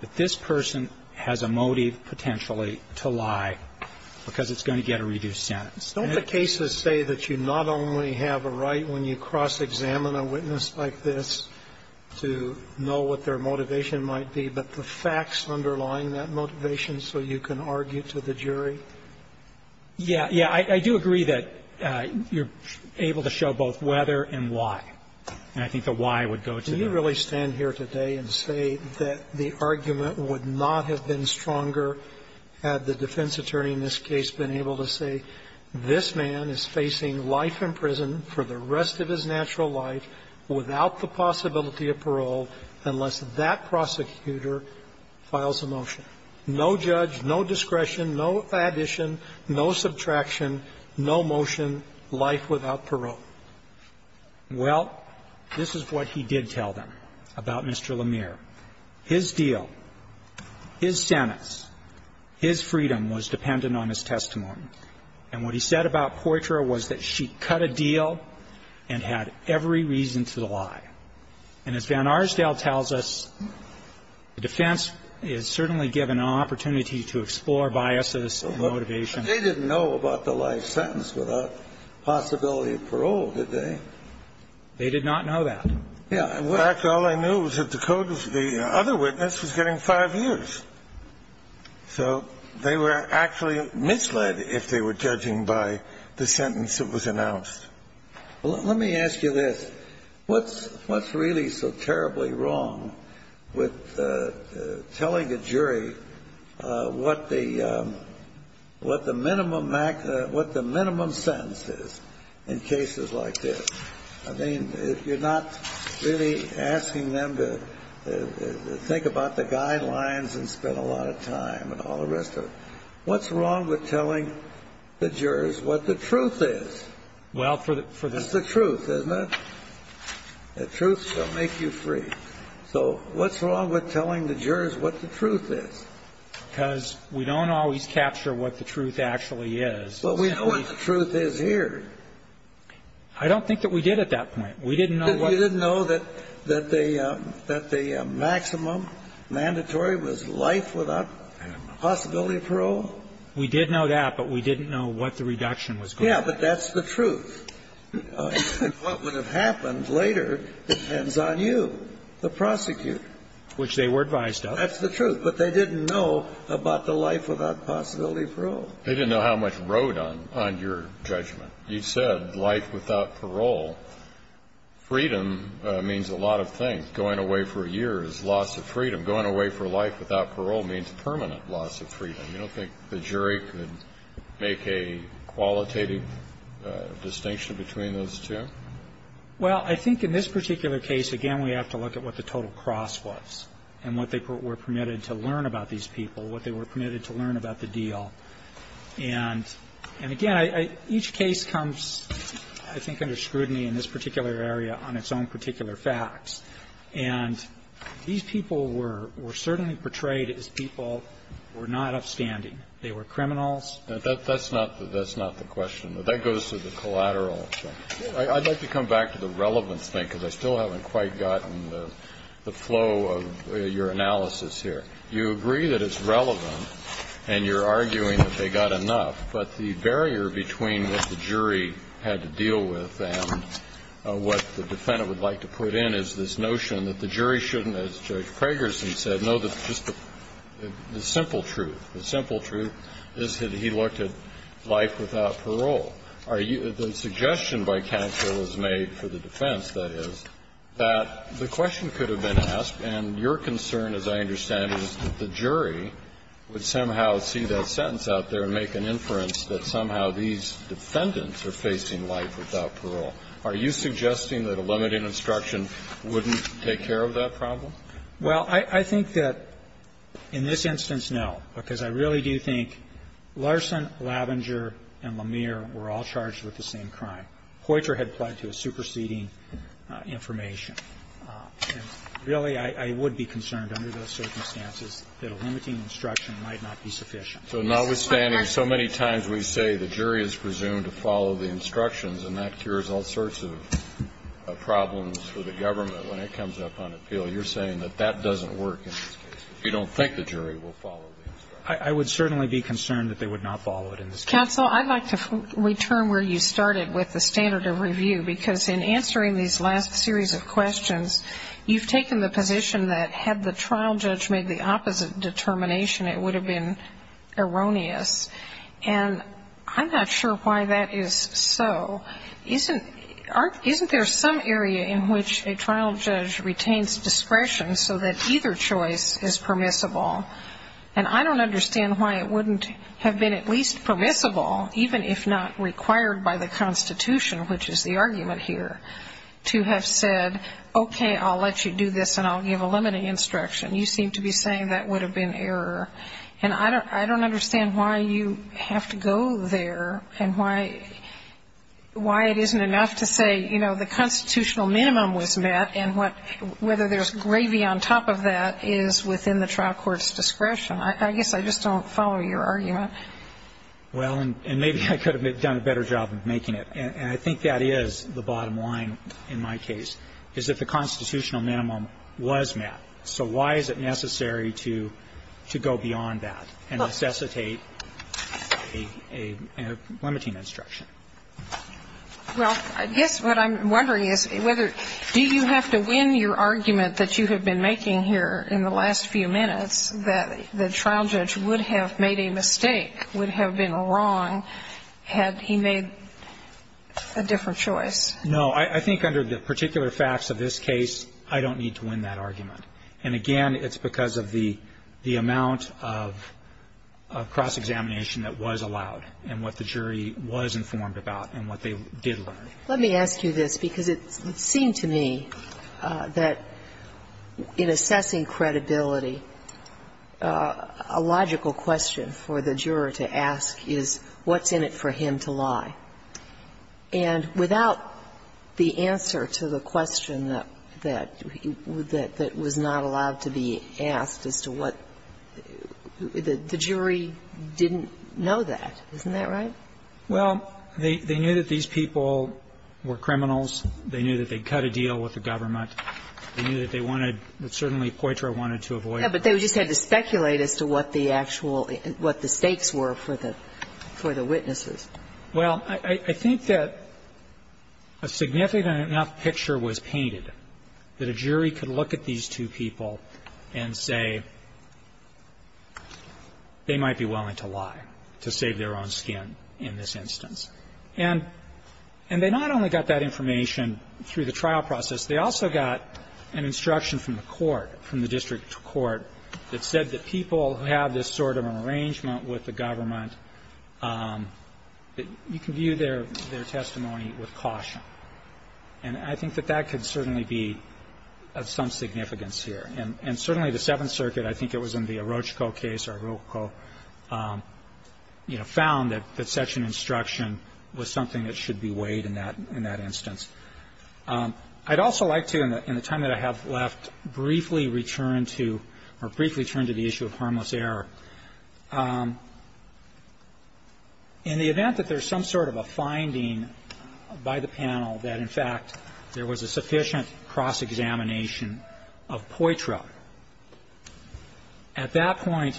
that this person has a motive potentially to lie, because it's going to get a reduced sentence. Don't the cases say that you not only have a right when you cross-examine a witness like this to know what their motivation might be, but the facts underlying that motivation so you can argue to the jury? Yeah. Yeah. I do agree that you're able to show both whether and why. And I think the why would go to the – Do you really stand here today and say that the argument would not have been stronger had the defense attorney in this case been able to say, this man is facing life in prison for the rest of his natural life without the possibility of parole unless that prosecutor files a motion? No judge, no discretion, no addition, no subtraction, no motion, life without parole. Well, this is what he did tell them about Mr. Lemire. His deal, his sentence, his freedom was dependent on his testimony. And what he said about Poitra was that she cut a deal and had every reason to lie. And as Van Arsdale tells us, the defense is certainly given an opportunity to explore biases and motivation. But they didn't know about the life sentence without possibility of parole, did they? They did not know that. In fact, all they knew was that the code of the other witness was getting five years. So they were actually misled if they were judging by the sentence that was announced. Well, let me ask you this. What's really so terribly wrong with telling a jury what the – what the minimum sentence is in cases like this? I mean, if you're not really asking them to think about the guidelines and spend a lot of time and all the rest of it, what's wrong with telling the jurors what the truth is? Well, for the – It's the truth, isn't it? The truth shall make you free. So what's wrong with telling the jurors what the truth is? Because we don't always capture what the truth actually is. But we know what the truth is here. I don't think that we did at that point. We didn't know what the – You didn't know that the maximum mandatory was life without possibility of parole? We did know that, but we didn't know what the reduction was going to be. Yeah, but that's the truth. What would have happened later depends on you, the prosecutor. Which they were advised of. That's the truth. But they didn't know about the life without possibility of parole. They didn't know how much road on your judgment. You said life without parole. Freedom means a lot of things. Going away for a year is loss of freedom. Going away for life without parole means permanent loss of freedom. You don't think the jury could make a qualitative distinction between those two? Well, I think in this particular case, again, we have to look at what the total cross was and what they were permitted to learn about these people, what they were permitted to learn about the deal. And, again, each case comes, I think, under scrutiny in this particular area on its own particular facts. And these people were certainly portrayed as people who were not upstanding. They were criminals. That's not the question. That goes to the collateral. I'd like to come back to the relevance thing, because I still haven't quite gotten the flow of your analysis here. You agree that it's relevant, and you're arguing that they got enough, but the barrier between what the jury had to deal with and what the defendant would like to put in is this notion that the jury shouldn't, as Judge Pragerson said, know that just the simple truth. The simple truth is that he looked at life without parole. Are you the suggestion by counsel was made for the defense, that is, that the question could have been asked, and your concern, as I understand it, is that the jury would somehow see that sentence out there and make an inference that somehow these defendants are facing life without parole? Are you suggesting that a limiting instruction wouldn't take care of that problem? Well, I think that in this instance, no, because I really do think Larson, Lavenger, and Lemire were all charged with the same crime. Poitras had applied to a superseding information. And really, I would be concerned under those circumstances that a limiting instruction might not be sufficient. So notwithstanding, so many times we say the jury is presumed to follow the instructions, and that cures all sorts of problems for the government when it comes up on appeal. You're saying that that doesn't work in this case. You don't think the jury will follow the instructions. I would certainly be concerned that they would not follow it in this case. Counsel, I'd like to return where you started with the standard of review, because in answering these last series of questions, you've taken the position that had the trial judge made the opposite determination, it would have been erroneous. And I'm not sure why that is so. Isn't there some area in which a trial judge retains discretion so that either choice is permissible? And I don't understand why it wouldn't have been at least permissible, even if not required by the Constitution, which is the argument here, to have said, okay, I'll let you do this and I'll give a limiting instruction. You seem to be saying that would have been error. And I don't understand why you have to go there and why it isn't enough to say, you know, the constitutional minimum was met, and whether there's gravy on top of that is within the trial court's discretion. I guess I just don't follow your argument. Well, and maybe I could have done a better job of making it. And I think that is the bottom line in my case, is that the constitutional minimum was met. So why is it necessary to go beyond that and necessitate a limiting instruction? Well, I guess what I'm wondering is whether do you have to win your argument that you have been making here in the last few minutes that the trial judge would have made a mistake, would have been wrong, had he made a different choice? No. I think under the particular facts of this case, I don't need to win that argument. And again, it's because of the amount of cross-examination that was allowed and what the jury was informed about and what they did learn. Let me ask you this, because it seemed to me that in assessing credibility, a logical question for the juror to ask is what's in it for him to lie? And without the answer to the question that was not allowed to be asked as to what the jury didn't know that, isn't that right? Well, they knew that these people were criminals. They knew that they'd cut a deal with the government. They knew that they wanted to – that certainly Poitra wanted to avoid. Yeah, but they just had to speculate as to what the actual – what the stakes were for the – for the witnesses. Well, I think that a significant enough picture was painted that a jury could look at these two people and say they might be willing to lie to save their own skin. And that's what they did in this instance. And they not only got that information through the trial process, they also got an instruction from the court, from the district court, that said that people who have this sort of an arrangement with the government, that you can view their – their testimony with caution. And I think that that could certainly be of some significance here. And certainly the Seventh Circuit, I think it was in the Orochco case, Orochco, you know, found that such an instruction was something that should be weighed in that – in that instance. I'd also like to, in the time that I have left, briefly return to – or briefly turn to the issue of harmless error. In the event that there's some sort of a finding by the panel that, in fact, there was a sufficient cross-examination of Poitra, at that point,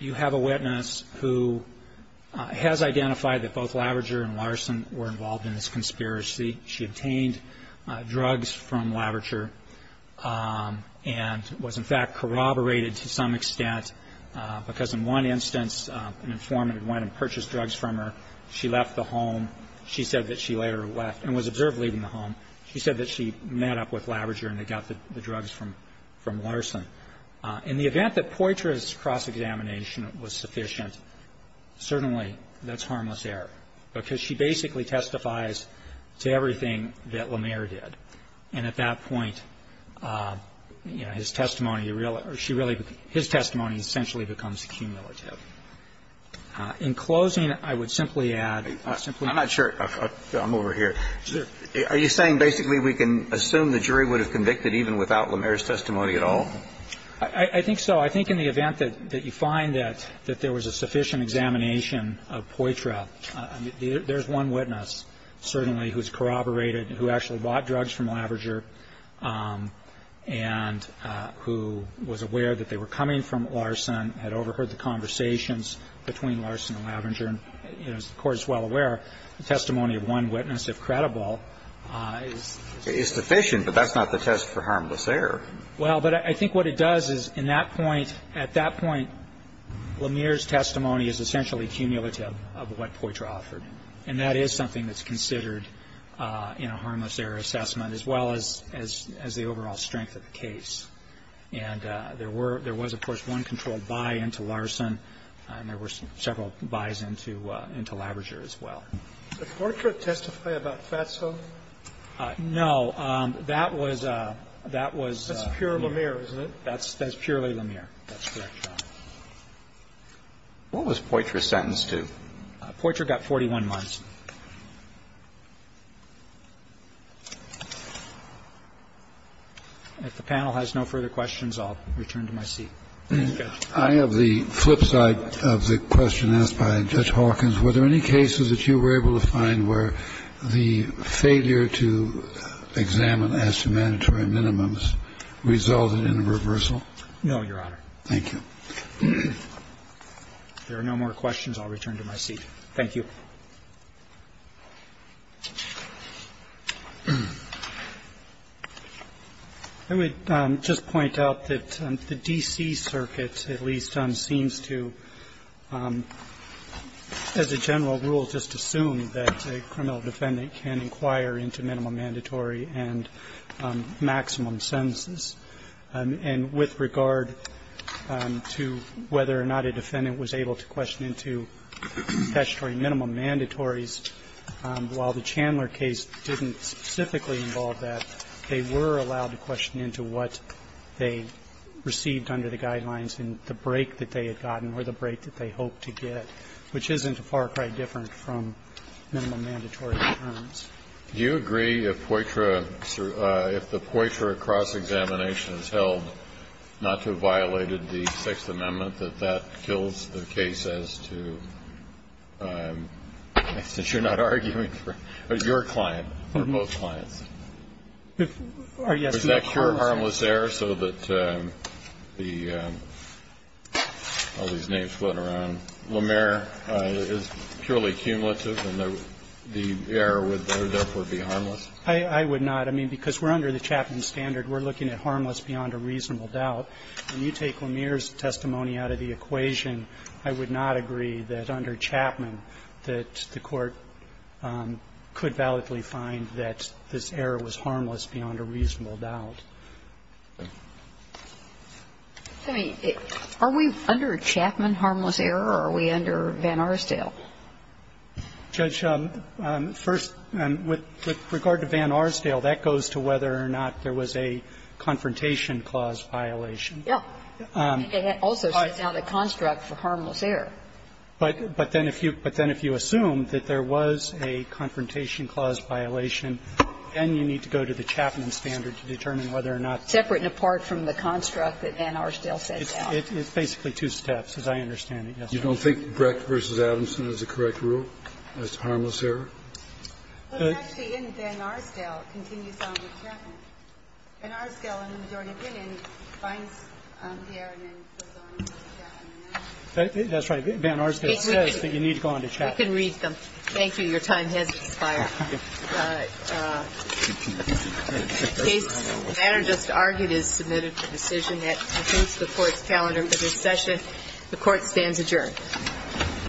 you have a witness who has identified that both Laverger and Larson were involved in this conspiracy. She obtained drugs from Laverger and was, in fact, corroborated to some extent, because in one instance, an informant had went and purchased drugs from her. She left the home. She said that she later left and was observed leaving the home. She said that she met up with Laverger and they got the drugs from Larson. In the event that Poitra's cross-examination was sufficient, certainly that's harmless error, because she basically testifies to everything that Lamer did. And at that point, you know, his testimony really – she really – his testimony essentially becomes cumulative. In closing, I would simply add, simply add to that, I'm not sure – I'm over here. Are you saying basically we can assume the jury would have convicted even without Lamer's testimony at all? I think so. I think in the event that you find that there was a sufficient examination of Poitra, there's one witness certainly who's corroborated, who actually bought drugs from Laverger and who was aware that they were coming from Larson, had overheard the conversations between Larson and Laverger, and the Court is well aware the testimony of one witness, if credible, is sufficient. But that's not the test for harmless error. Well, but I think what it does is in that point – at that point, Lamer's testimony is essentially cumulative of what Poitra offered. And that is something that's considered in a harmless error assessment, as well as the overall strength of the case. And there were – there was, of course, one controlled buy into Larson, and there were several buys into Laverger as well. Did Poitra testify about Fatso? No. That was – that was Lamer. That's pure Lamer, isn't it? That's purely Lamer. That's correct, Your Honor. What was Poitra sentenced to? Poitra got 41 months. If the panel has no further questions, I'll return to my seat. Thank you, Judge. I have the flip side of the question asked by Judge Hawkins. Were there any cases that you were able to find where the failure to examine as to mandatory minimums resulted in a reversal? No, Your Honor. Thank you. If there are no more questions, I'll return to my seat. Thank you. I would just point out that the D.C. Circuit, at least, seems to, as it's been assumed, that a criminal defendant can inquire into minimum mandatory and maximum sentences. And with regard to whether or not a defendant was able to question into statutory minimum mandatories, while the Chandler case didn't specifically involve that, they were allowed to question into what they received under the guidelines and the break that they had gotten or the break that they hoped to get, which isn't a far cry different from minimum mandatory terms. Do you agree if Poitra, if the Poitra cross-examination is held not to have violated the Sixth Amendment, that that kills the case as to, since you're not arguing for your client or both clients? If, yes, no. Would it cure harmless error so that the, all these names floating around, Lemire is purely cumulative and the error would therefore be harmless? I would not. I mean, because we're under the Chapman standard. We're looking at harmless beyond a reasonable doubt. When you take Lemire's testimony out of the equation, I would not agree that under Chapman that the Court could validly find that this error was harmless beyond a reasonable doubt. Sotomayor, are we under Chapman harmless error or are we under Van Arsdale? Judge, first, with regard to Van Arsdale, that goes to whether or not there was a confrontation clause violation. Yes. Also, it's not a construct for harmless error. But then if you assume that there was a confrontation clause violation, then you need to go to the Chapman standard to determine whether or not. Separate and apart from the construct that Van Arsdale sets out. It's basically two steps, as I understand it. You don't think Brecht v. Adamson is the correct rule as to harmless error? Actually, Van Arsdale continues on with Chapman. Van Arsdale, in the majority opinion, finds the error and then goes on with Chapman. That's right. Van Arsdale says that you need to go on to Chapman. We can read them. Thank you. Your time has expired. The case matter just argued is submitted for decision. That concludes the Court's calendar for this session. The Court stands adjourned.